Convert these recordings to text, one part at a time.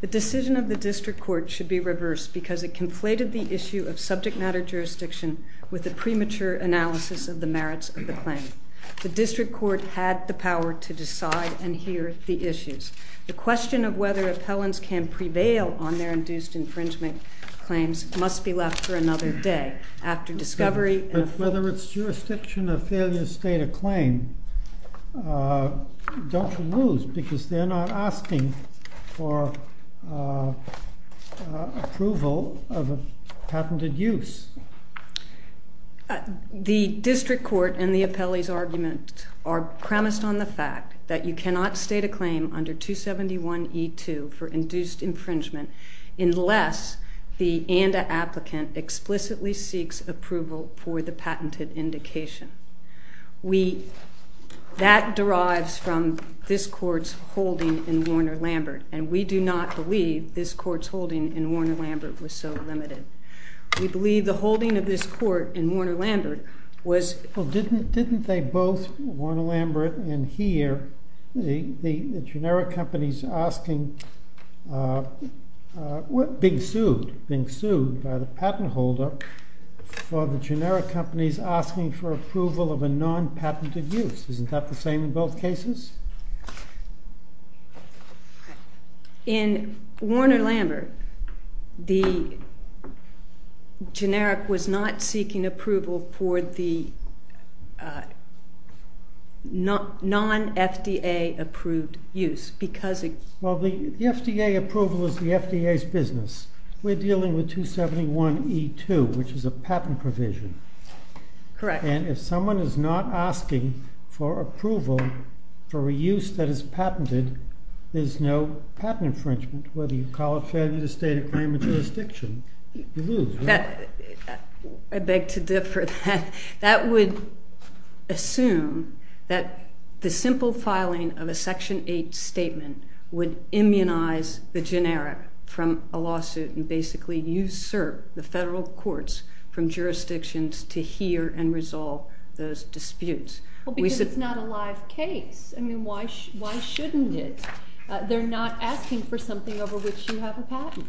The decision of the District Court should be reversed because it conflated the issue of subject matter jurisdiction with the premature analysis of the merits of the claim. The District Court had the power to decide and hear the issues. The question of whether appellants can prevail on their induced infringement claims must be left for another day, after discovery and approval. Whether it's jurisdiction or failure to state a claim, don't you lose because they're not asking for approval of a patented use? The District Court and the appellee's argument are premised on the fact that you cannot state a claim under 271E2 for induced infringement unless the ANDA applicant explicitly seeks approval for the patented indication. We, that derives from this Court's holding in Warner-Lambert, and we do not believe this Court's holding in Warner-Lambert was so limited. We believe the holding of this Court in Warner-Lambert was- Well, didn't they both, Warner-Lambert and here, the generic companies asking, being sued by the patent holder for the generic companies asking for approval of a non-patented use. Isn't that the same in both cases? In Warner-Lambert, the generic was not seeking approval for the non-FDA approved use because it- Well, the FDA approval is the FDA's business. We're dealing with 271E2, which is a patent provision. Correct. And if someone is not asking for approval for a use that is patented, there's no patent infringement. Whether you call it failure to state a claim or jurisdiction, you lose, right? I beg to differ. That would assume that the simple filing of a Section 8 statement would immunize the generic from a lawsuit and basically usurp the federal courts from jurisdictions to hear and resolve those disputes. Well, because it's not a live case. I mean, why shouldn't it? They're not asking for something over which you have a patent.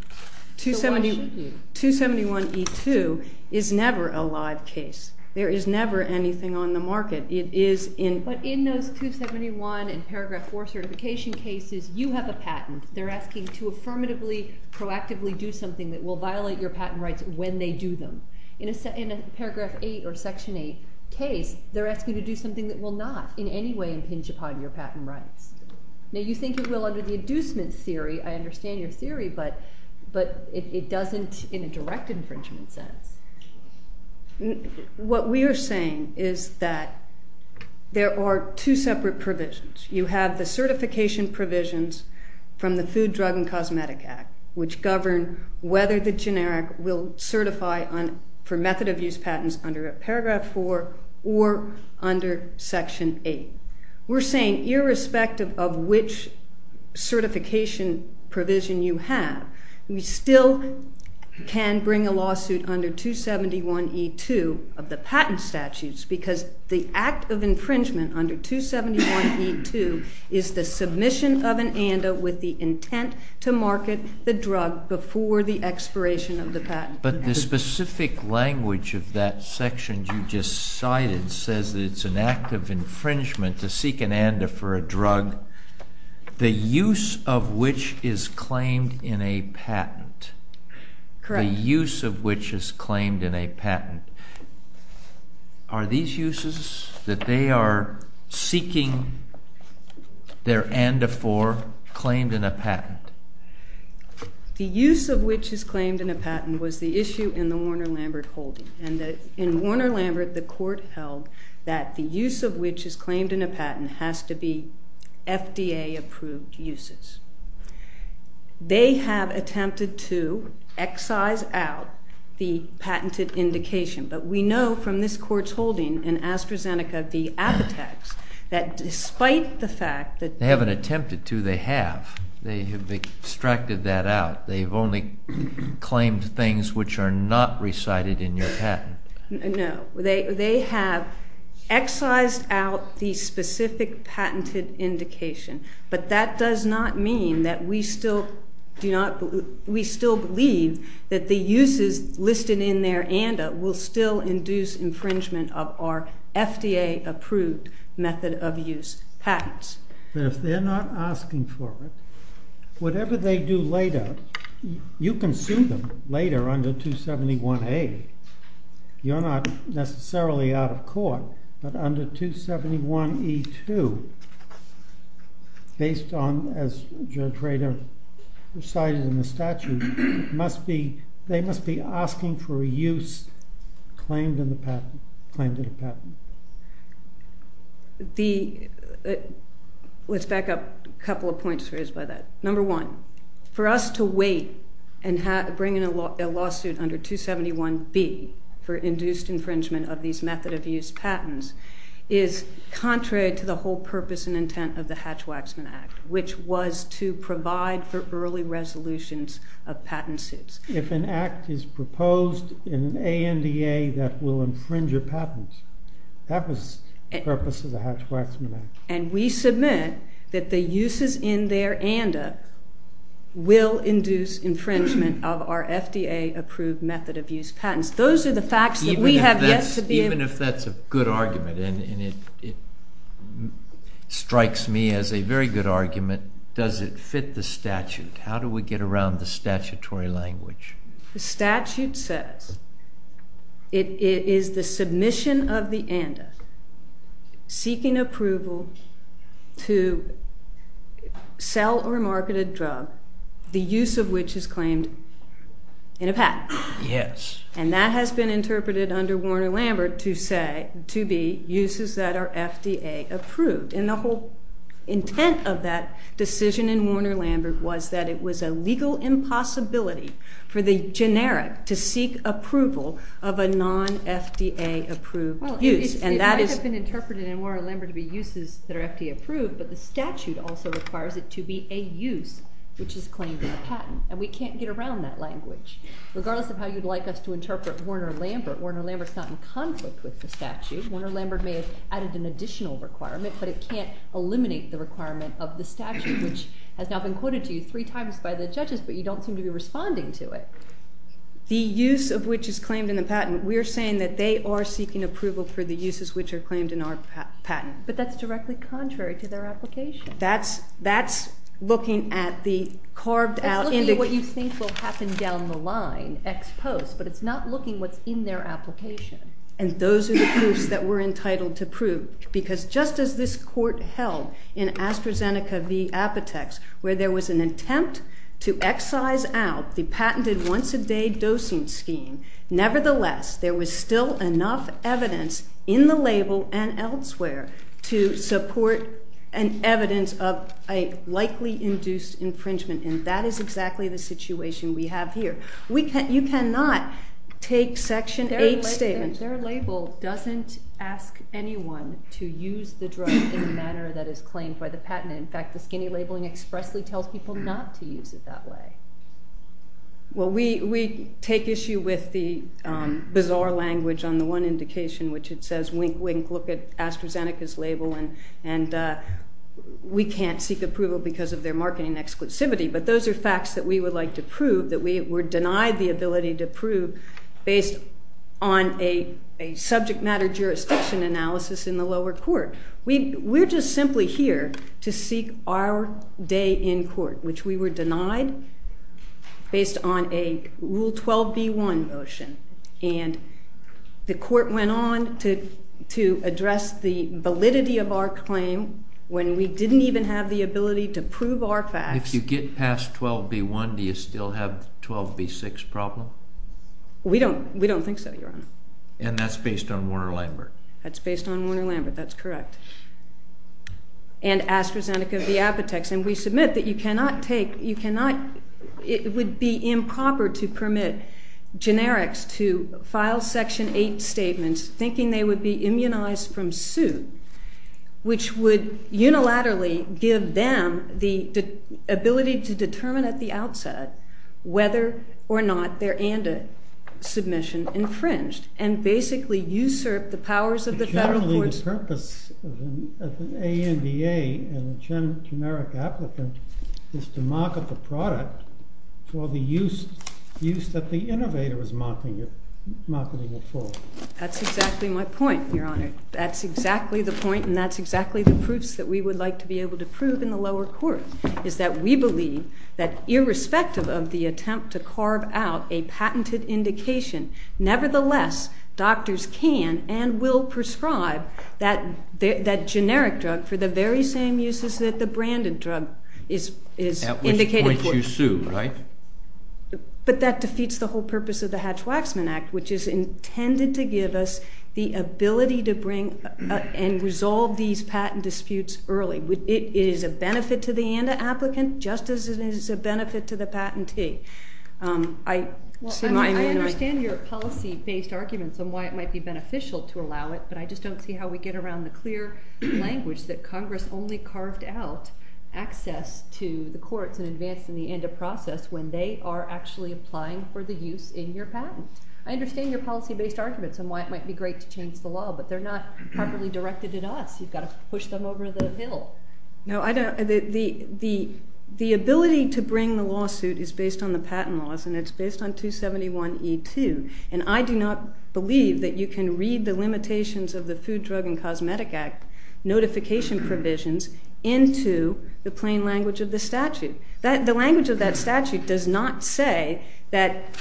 So why should you? 271E2 is never a live case. There is never anything on the market. It is in- But in those 271 and Paragraph 4 certification cases, you have a patent. They're asking to affirmatively, proactively do something that will violate your patent rights when they do them. In a Paragraph 8 or Section 8 case, they're asking to do something that will not in any way impinge upon your patent rights. Now, you think it will under the inducement theory. I understand your theory, but it doesn't in a direct infringement sense. What we are saying is that there are two separate provisions. You have the certification provisions from the Food, Drug, and Cosmetic Act, which govern whether the generic will certify for method of use patents under Paragraph 4 or under Section 8. We're saying irrespective of which certification provision you have, we still can bring a lawsuit under 271E2 of the patent statutes, because the act of infringement under 271E2 is the submission of an ANDA with the intent to market the drug before the expiration of the patent. But the specific language of that section you just cited says that it's an act of infringement to seek an ANDA for a drug, the use of which is claimed in a patent. Correct. The use of which is claimed in a patent. Are these uses that they are seeking their ANDA for claimed in a patent? The use of which is claimed in a patent was the issue in the Warner-Lambert holding. In Warner-Lambert, the court held that the use of which is claimed in a patent has to be FDA-approved uses. They have attempted to excise out the patented indication, but we know from this court's holding in AstraZeneca v. Apotex, that despite the fact that they haven't attempted to, they have. They have extracted that out. They've only claimed things which are not recited in your patent. No. They have excised out the specific patented indication, but that does not mean that we still believe that the uses listed in their ANDA will still induce infringement of our FDA-approved method of use patents. But if they're not asking for it, whatever they do later, you can sue them later under 271A. You're not necessarily out of court, but under 271E2, based on, as Judge Rader recited in the statute, they must be asking for a use claimed in a patent. Let's back up a couple of points raised by that. Number one, for us to wait and bring in a lawsuit under 271B for induced infringement of these method of use patents is contrary to the whole purpose and intent of the Hatch-Waxman Act, which was to provide for early resolutions of patent suits. If an act is proposed in an ANDA that will infringe a patent, that was the purpose of the Hatch-Waxman Act. And we submit that the uses in their ANDA will induce infringement of our FDA-approved method of use patents. Those are the facts that we have yet to be able to prove. Even if that's a good argument, and it strikes me as a very good argument, does it fit the statute? How do we get around the statutory language? The statute says it is the submission of the ANDA seeking approval to sell or market a drug, the use of which is claimed in a patent. And that has been interpreted under Warner-Lambert to be uses that are FDA-approved. And the whole intent of that decision in Warner-Lambert was that it was a legal impossibility for the generic to seek approval of a non-FDA-approved use. And that is— Well, it might have been interpreted in Warner-Lambert to be uses that are FDA-approved, but the statute also requires it to be a use, which is claimed in a patent, and we can't get around that language. Regardless of how you'd like us to interpret Warner-Lambert, Warner-Lambert's not in conflict with the statute. Warner-Lambert may have added an additional requirement, but it can't eliminate the requirement of the statute, which has now been quoted to you three times by the judges, but you don't seem to be responding to it. The use of which is claimed in the patent, we are saying that they are seeking approval for the uses which are claimed in our patent. But that's directly contrary to their application. That's looking at the carved-out— It's looking at what you think will happen down the line, ex post, but it's not looking what's in their application. And those are the proofs that we're entitled to prove, because just as this court held in AstraZeneca v. Apotex, where there was an attempt to excise out the patented once-a-day dosing scheme, nevertheless, there was still enough evidence in the label and elsewhere to support an evidence of a likely-induced infringement, and that is exactly the situation we have here. You cannot take Section 8 statements— And their label doesn't ask anyone to use the drug in a manner that is claimed by the patent. In fact, the skinny labeling expressly tells people not to use it that way. Well, we take issue with the bizarre language on the one indication, which it says, wink-wink, look at AstraZeneca's label, and we can't seek approval because of their marketing exclusivity. But those are facts that we would like to prove, that we're denied the ability to prove based on a subject-matter jurisdiction analysis in the lower court. We're just simply here to seek our day in court, which we were denied based on a Rule 12b-1 motion, and the court went on to address the validity of our claim when we didn't even have the ability to prove our facts. If you get past 12b-1, do you still have the 12b-6 problem? We don't think so, Your Honor. And that's based on Warner-Lambert? That's based on Warner-Lambert, that's correct. And AstraZeneca's diabetics, and we submit that you cannot take—it would be improper to permit generics to file Section 8 statements thinking they would be immunized from suit, which would unilaterally give them the ability to determine at the outset whether or not their ANDA submission infringed, and basically usurp the powers of the federal courts— Generally, the purpose of an ANDA and a generic applicant is to market the product for the use that the innovator is marketing it for. That's exactly my point, Your Honor. That's exactly the point, and that's exactly the proofs that we would like to be able to prove in the lower court, is that we believe that irrespective of the attempt to carve out a patented indication, nevertheless, doctors can and will prescribe that generic drug for the very same uses that the branded drug is indicated for. At which point you sue, right? But that defeats the whole purpose of the Hatch-Waxman Act, which is intended to give us the ability to bring and resolve these patent disputes early. It is a benefit to the ANDA applicant just as it is a benefit to the patentee. I understand your policy-based arguments on why it might be beneficial to allow it, but I just don't see how we get around the clear language that Congress only carved out access to the courts and advancing the ANDA process when they are actually applying for the use in your patent. I understand your policy-based arguments on why it might be great to change the law, but they're not properly directed at us. You've got to push them over the hill. No, I don't. The ability to bring the lawsuit is based on the patent laws, and it's based on 271E2. And I do not believe that you can read the limitations of the Food, Drug, and Cosmetic Act notification provisions into the plain language of the statute. The language of that statute does not say that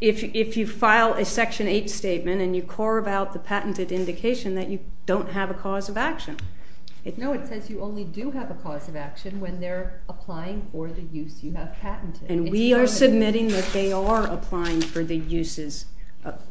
if you file a Section 8 statement and you carve out the patented indication that you don't have a cause of action. No, it says you only do have a cause of action when they're applying for the use you have patented. And we are submitting that they are applying for the uses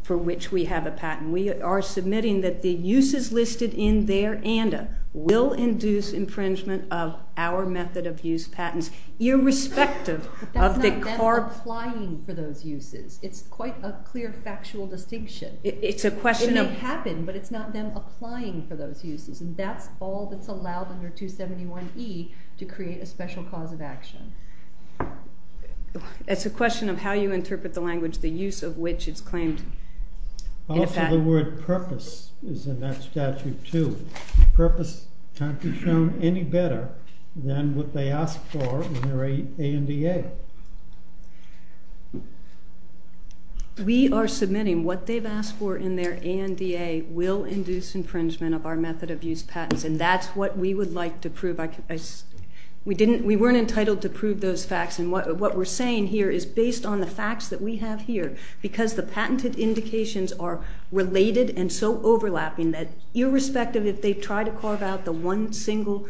for which we have a patent. We are submitting that the uses listed in their ANDA will induce infringement of our method of use patents, irrespective of the carve- But that's not them applying for those uses. It's quite a clear factual distinction. It's a question of- It may happen, but it's not them applying for those uses. And that's all that's allowed under 271E to create a special cause of action. It's a question of how you interpret the language, the use of which is claimed in a patent. Also, the word purpose is in that statute, too. Purpose can't be shown any better than what they ask for in their ANDA. We are submitting what they've asked for in their ANDA will induce infringement of our method of use patents, and that's what we would like to prove. We weren't entitled to prove those facts, and what we're saying here is based on the facts that we have here, because the patented indications are related and so overlapping that irrespective if they try to carve out the one single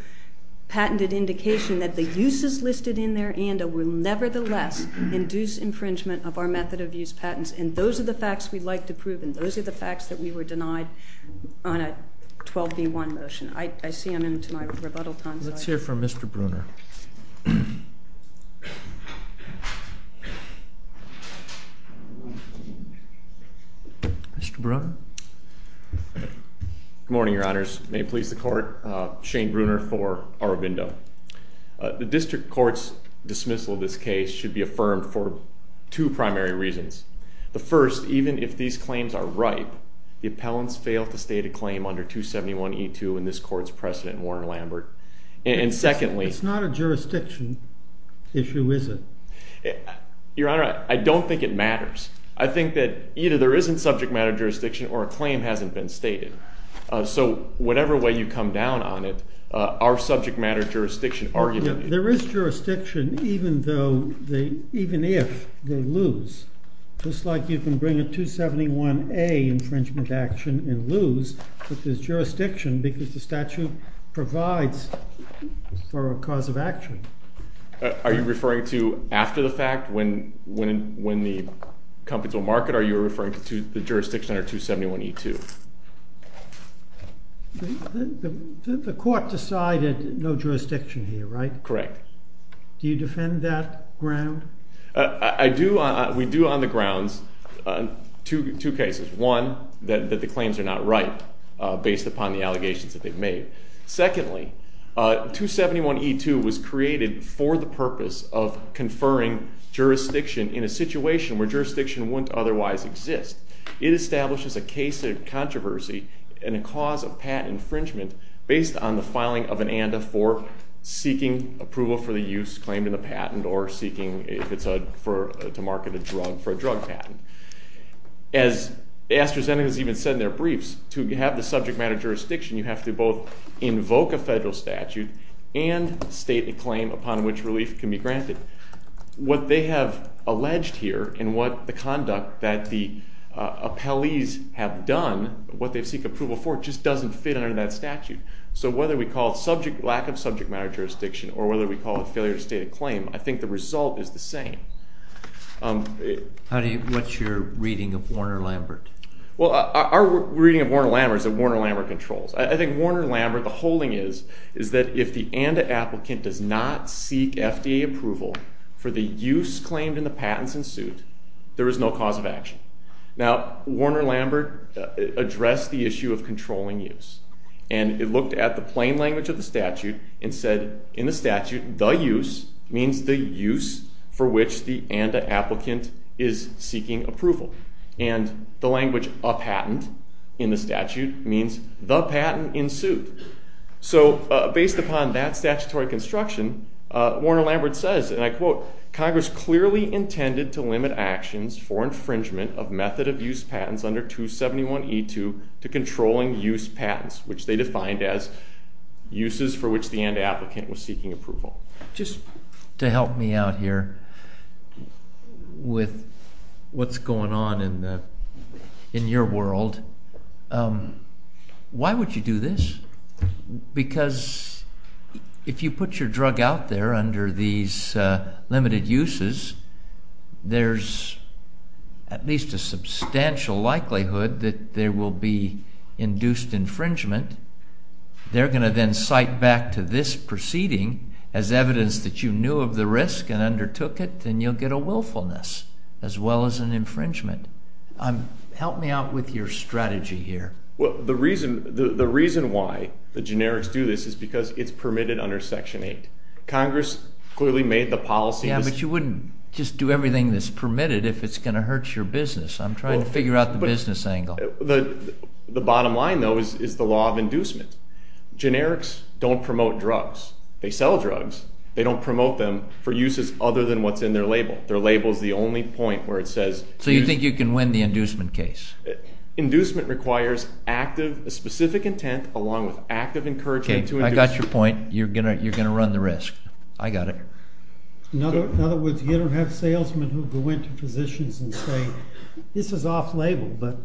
patented indication that the uses listed in their ANDA will nevertheless induce infringement of our method of use patents. And those are the facts we'd like to prove, and those are the facts that we were denied on a 12B1 motion. I see I'm into my rebuttal time. Let's hear from Mr. Bruner. Mr. Bruner? Good morning, Your Honors. May it please the Court, Shane Bruner for Aurobindo. The district court's dismissal of this case should be affirmed for two primary reasons. The first, even if these claims are ripe, the appellants failed to state a claim under 271E2 in this court's precedent in Warner-Lambert. And secondly— It's not a jurisdiction issue, is it? Your Honor, I don't think it matters. I think that either there isn't subject matter jurisdiction or a claim hasn't been stated. So whatever way you come down on it, our subject matter jurisdiction argument— There is jurisdiction even if they lose. Just like you can bring a 271A infringement action and lose, but there's jurisdiction because the statute provides for a cause of action. Are you referring to after the fact? When the companies will market? Are you referring to the jurisdiction under 271E2? The court decided no jurisdiction here, right? Correct. Do you defend that ground? I do. We do on the grounds. Two cases. One, that the claims are not ripe based upon the allegations that they've made. Secondly, 271E2 was created for the purpose of conferring jurisdiction in a situation where jurisdiction wouldn't otherwise exist. It establishes a case of controversy and a cause of patent infringement based on the filing of an ANDA for seeking approval for the use claimed in the patent or seeking to market a drug for a drug patent. As AstraZeneca has even said in their briefs, to have the subject matter jurisdiction, you have to both invoke a federal statute and state a claim upon which relief can be granted. What they have alleged here and what the conduct that the appellees have done, what they seek approval for, just doesn't fit under that statute. So whether we call it lack of subject matter jurisdiction or whether we call it failure to state a claim, I think the result is the same. What's your reading of Warner-Lambert? Well, our reading of Warner-Lambert is that Warner-Lambert controls. I think Warner-Lambert, the holding is, is that if the ANDA applicant does not seek FDA approval for the use claimed in the patents and suit, there is no cause of action. Now, Warner-Lambert addressed the issue of controlling use. And it looked at the plain language of the statute and said, in the statute, the use means the use for which the ANDA applicant is seeking approval. And the language a patent in the statute means the patent in suit. So based upon that statutory construction, Warner-Lambert says, and I quote, Congress clearly intended to limit actions for infringement of method of use patents under 271E2 to controlling use patents, which they defined as uses for which the ANDA applicant was seeking approval. Just to help me out here with what's going on in your world, why would you do this? Because if you put your drug out there under these limited uses, there's at least a substantial likelihood that there will be induced infringement. They're going to then cite back to this proceeding as evidence that you knew of the risk and undertook it, then you'll get a willfulness as well as an infringement. Help me out with your strategy here. The reason why the generics do this is because it's permitted under Section 8. Congress clearly made the policy. Yeah, but you wouldn't just do everything that's permitted if it's going to hurt your business. I'm trying to figure out the business angle. The bottom line, though, is the law of inducement. Generics don't promote drugs. They sell drugs. They don't promote them for uses other than what's in their label. Their label is the only point where it says— So you think you can win the inducement case? Inducement requires a specific intent along with active encouragement to induce— Okay, I got your point. You're going to run the risk. I got it. In other words, you don't have salesmen who go into physicians and say, this is off-label, but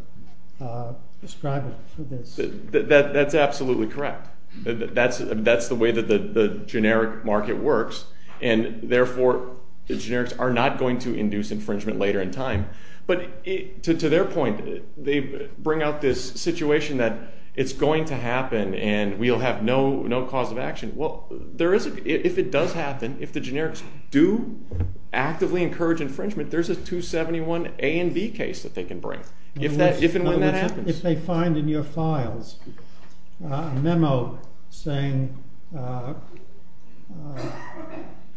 prescribe it for this. That's absolutely correct. That's the way that the generic market works, and therefore the generics are not going to induce infringement later in time. But to their point, they bring out this situation that it's going to happen and we'll have no cause of action. Well, if it does happen, if the generics do actively encourage infringement, there's a 271 A and B case that they can bring if and when that happens. If they find in your files a memo saying,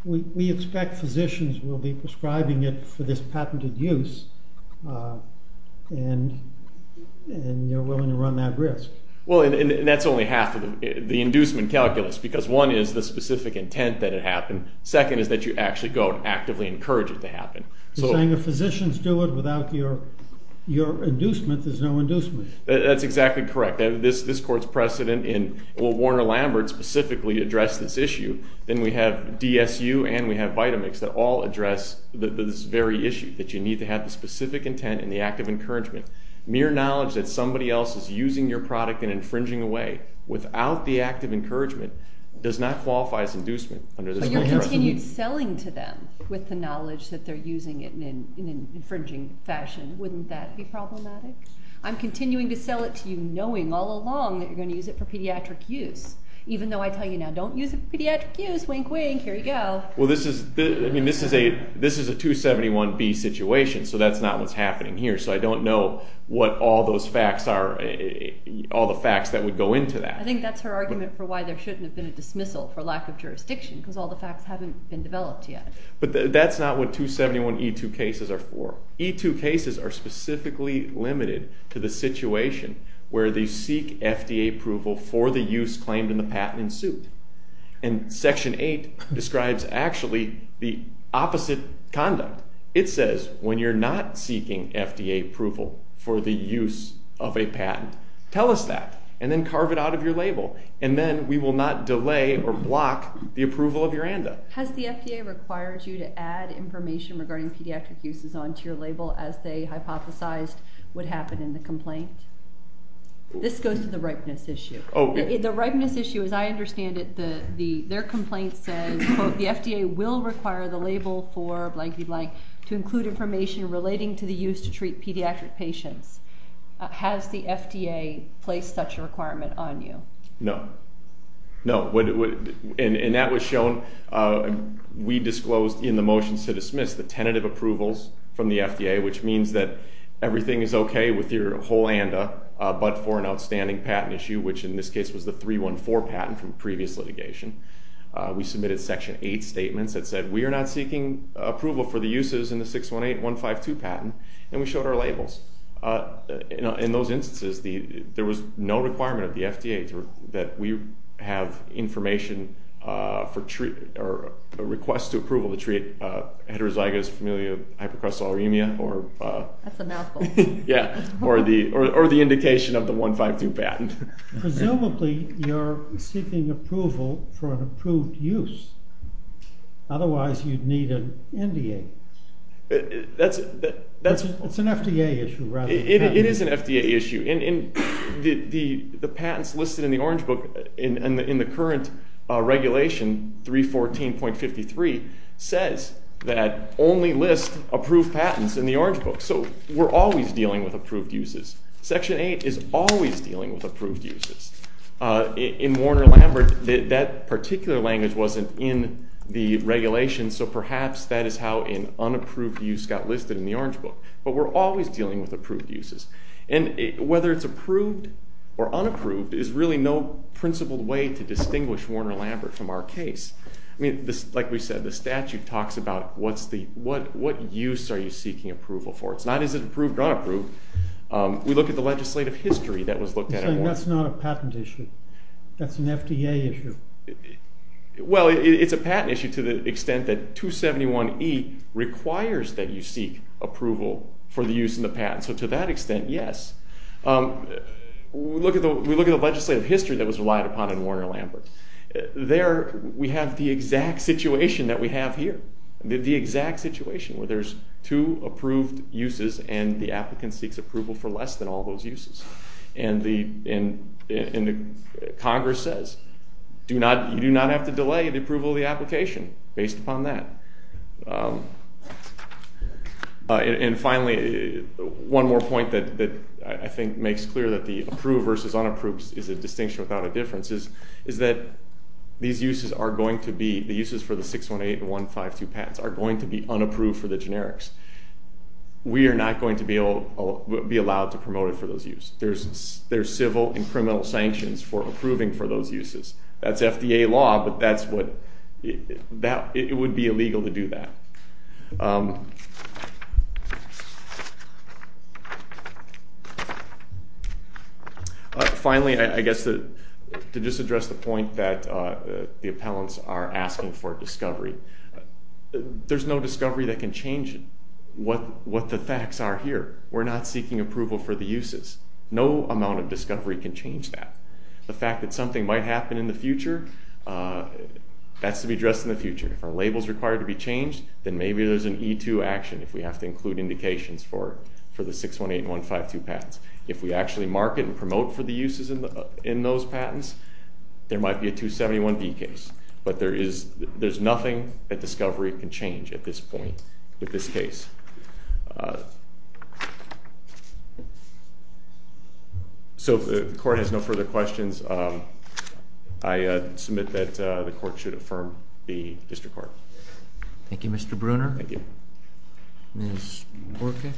we expect physicians will be prescribing it for this patented use, and you're willing to run that risk. Well, and that's only half of the inducement calculus because one is the specific intent that it happened. Second is that you actually go and actively encourage it to happen. You're saying if physicians do it without your inducement, there's no inducement. That's exactly correct. This court's precedent in Warner-Lambert specifically addressed this issue. Then we have DSU and we have Vitamix that all address this very issue, that you need to have the specific intent and the active encouragement. Mere knowledge that somebody else is using your product and infringing away without the active encouragement does not qualify as inducement under this law. If you continue selling to them with the knowledge that they're using it in an infringing fashion, wouldn't that be problematic? I'm continuing to sell it to you knowing all along that you're going to use it for pediatric use, even though I tell you now, don't use it for pediatric use, wink, wink, here you go. Well, this is a 271 B situation, so that's not what's happening here. So I don't know what all those facts are, all the facts that would go into that. I think that's her argument for why there shouldn't have been a dismissal for lack of jurisdiction because all the facts haven't been developed yet. But that's not what 271 E-2 cases are for. E-2 cases are specifically limited to the situation where they seek FDA approval for the use claimed in the patent in suit. Section 8 describes actually the opposite conduct. It says when you're not seeking FDA approval for the use of a patent, tell us that and then carve it out of your label, and then we will not delay or block the approval of your ANDA. Has the FDA required you to add information regarding pediatric uses onto your label as they hypothesized would happen in the complaint? This goes to the ripeness issue. The ripeness issue, as I understand it, their complaint says, quote, the FDA will require the label for blanky blank to include information relating to the use to treat pediatric patients. Has the FDA placed such a requirement on you? No. No. And that was shown. We disclosed in the motions to dismiss the tentative approvals from the FDA, which means that everything is okay with your whole ANDA but for an outstanding patent issue, which in this case was the 314 patent from previous litigation. We submitted Section 8 statements that said we are not seeking approval for the uses in the 618152 patent, and we showed our labels. In those instances, there was no requirement of the FDA that we have information or a request to approval to treat heterozygous familial hypercholesterolemia or the indication of the 152 patent. Presumably, you're seeking approval for an approved use. Otherwise, you'd need an NDA. It's an FDA issue rather than a patent issue. It is an FDA issue. The patents listed in the Orange Book in the current regulation, 314.53, says that only list approved patents in the Orange Book. So we're always dealing with approved uses. Section 8 is always dealing with approved uses. In Warner-Lambert, that particular language wasn't in the regulation, so perhaps that is how an unapproved use got listed in the Orange Book. But we're always dealing with approved uses. Whether it's approved or unapproved is really no principled way to distinguish Warner-Lambert from our case. Like we said, the statute talks about what use are you seeking approval for. It's not is it approved or unapproved. We look at the legislative history that was looked at at Warner-Lambert. That's not a patent issue. That's an FDA issue. Well, it's a patent issue to the extent that 271E requires that you seek approval for the use in the patent. So to that extent, yes. We look at the legislative history that was relied upon in Warner-Lambert. There we have the exact situation that we have here, the exact situation where there's two approved uses and the applicant seeks approval for less than all those uses. And Congress says you do not have to delay the approval of the application based upon that. And finally, one more point that I think makes clear that the approved versus unapproved is a distinction without a difference is that these uses are going to be, the uses for the 618 and 152 patents, are going to be unapproved for the generics. We are not going to be allowed to promote it for those uses. There's civil and criminal sanctions for approving for those uses. That's FDA law, but that's what, it would be illegal to do that. Finally, I guess to just address the point that the appellants are asking for discovery, there's no discovery that can change what the facts are here. We're not seeking approval for the uses. No amount of discovery can change that. The fact that something might happen in the future, that's to be addressed in the future. If our label is required to be changed, then maybe there's an E2 action if we have to include indications for the 618 and 152 patents. If we actually market and promote for the uses in those patents, there might be a 271B case. But there's nothing that discovery can change at this point with this case. So if the court has no further questions, I submit that the court should affirm the district court. Thank you, Mr. Bruner. Thank you. Ms. Borca.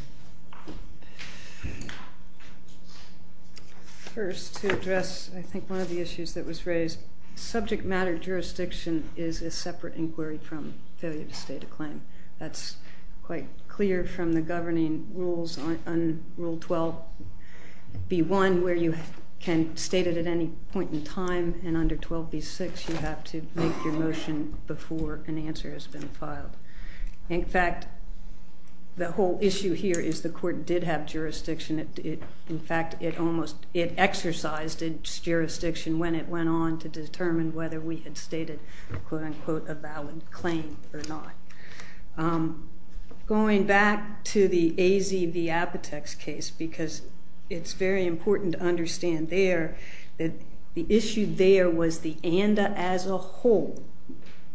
First, to address I think one of the issues that was raised, subject matter jurisdiction is a separate inquiry from failure to state a claim. That's quite clear from the governing rules on Rule 12B1, where you can state it at any point in time, and under 12B6 you have to make your motion before an answer has been filed. In fact, the whole issue here is the court did have jurisdiction. In fact, it exercised its jurisdiction when it went on to determine whether we had stated a quote-unquote, a valid claim or not. Going back to the AZ-Viapatex case, because it's very important to understand there that the issue there was that the ANDA as a whole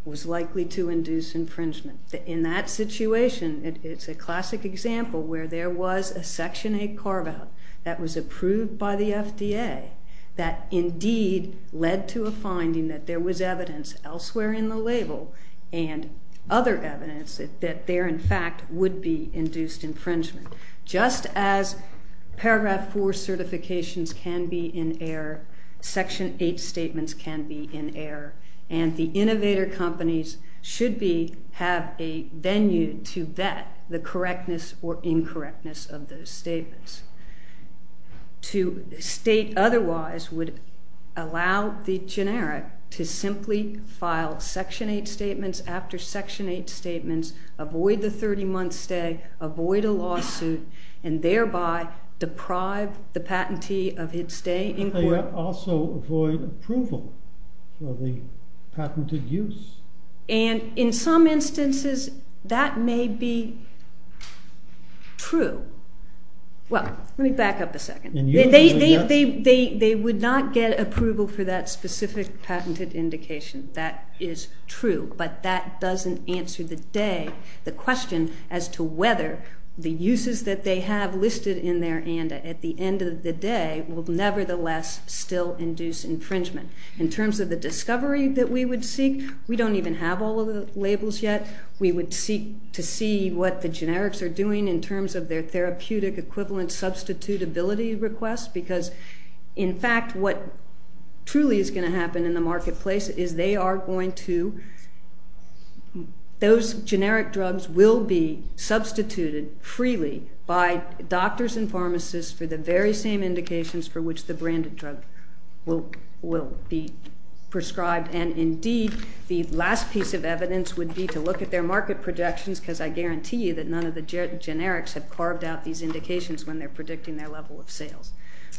was likely to induce infringement. In that situation, it's a classic example where there was a Section 8 carve-out that was approved by the FDA that indeed led to a finding that there was evidence elsewhere in the label and other evidence that there in fact would be induced infringement. Just as Paragraph 4 certifications can be in error, Section 8 statements can be in error, and the innovator companies should have a venue to vet the correctness or incorrectness of those statements. To state otherwise would allow the generic to simply file Section 8 statements after Section 8 statements, avoid the 30-month stay, avoid a lawsuit, and thereby deprive the patentee of his stay in court. They also avoid approval for the patented use. And in some instances, that may be true. Well, let me back up a second. They would not get approval for that specific patented indication. That is true, but that doesn't answer the day, as to whether the uses that they have listed in their ANDA at the end of the day will nevertheless still induce infringement. In terms of the discovery that we would seek, we don't even have all of the labels yet. We would seek to see what the generics are doing in terms of their therapeutic equivalent substitutability requests because, in fact, what truly is going to happen in the marketplace is those generic drugs will be substituted freely by doctors and pharmacists for the very same indications for which the branded drug will be prescribed. And indeed, the last piece of evidence would be to look at their market projections because I guarantee you that none of the generics have carved out these indications when they're predicting their level of sales.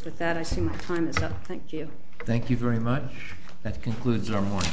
With that, I see my time is up. Thank you. Thank you very much. That concludes our morning.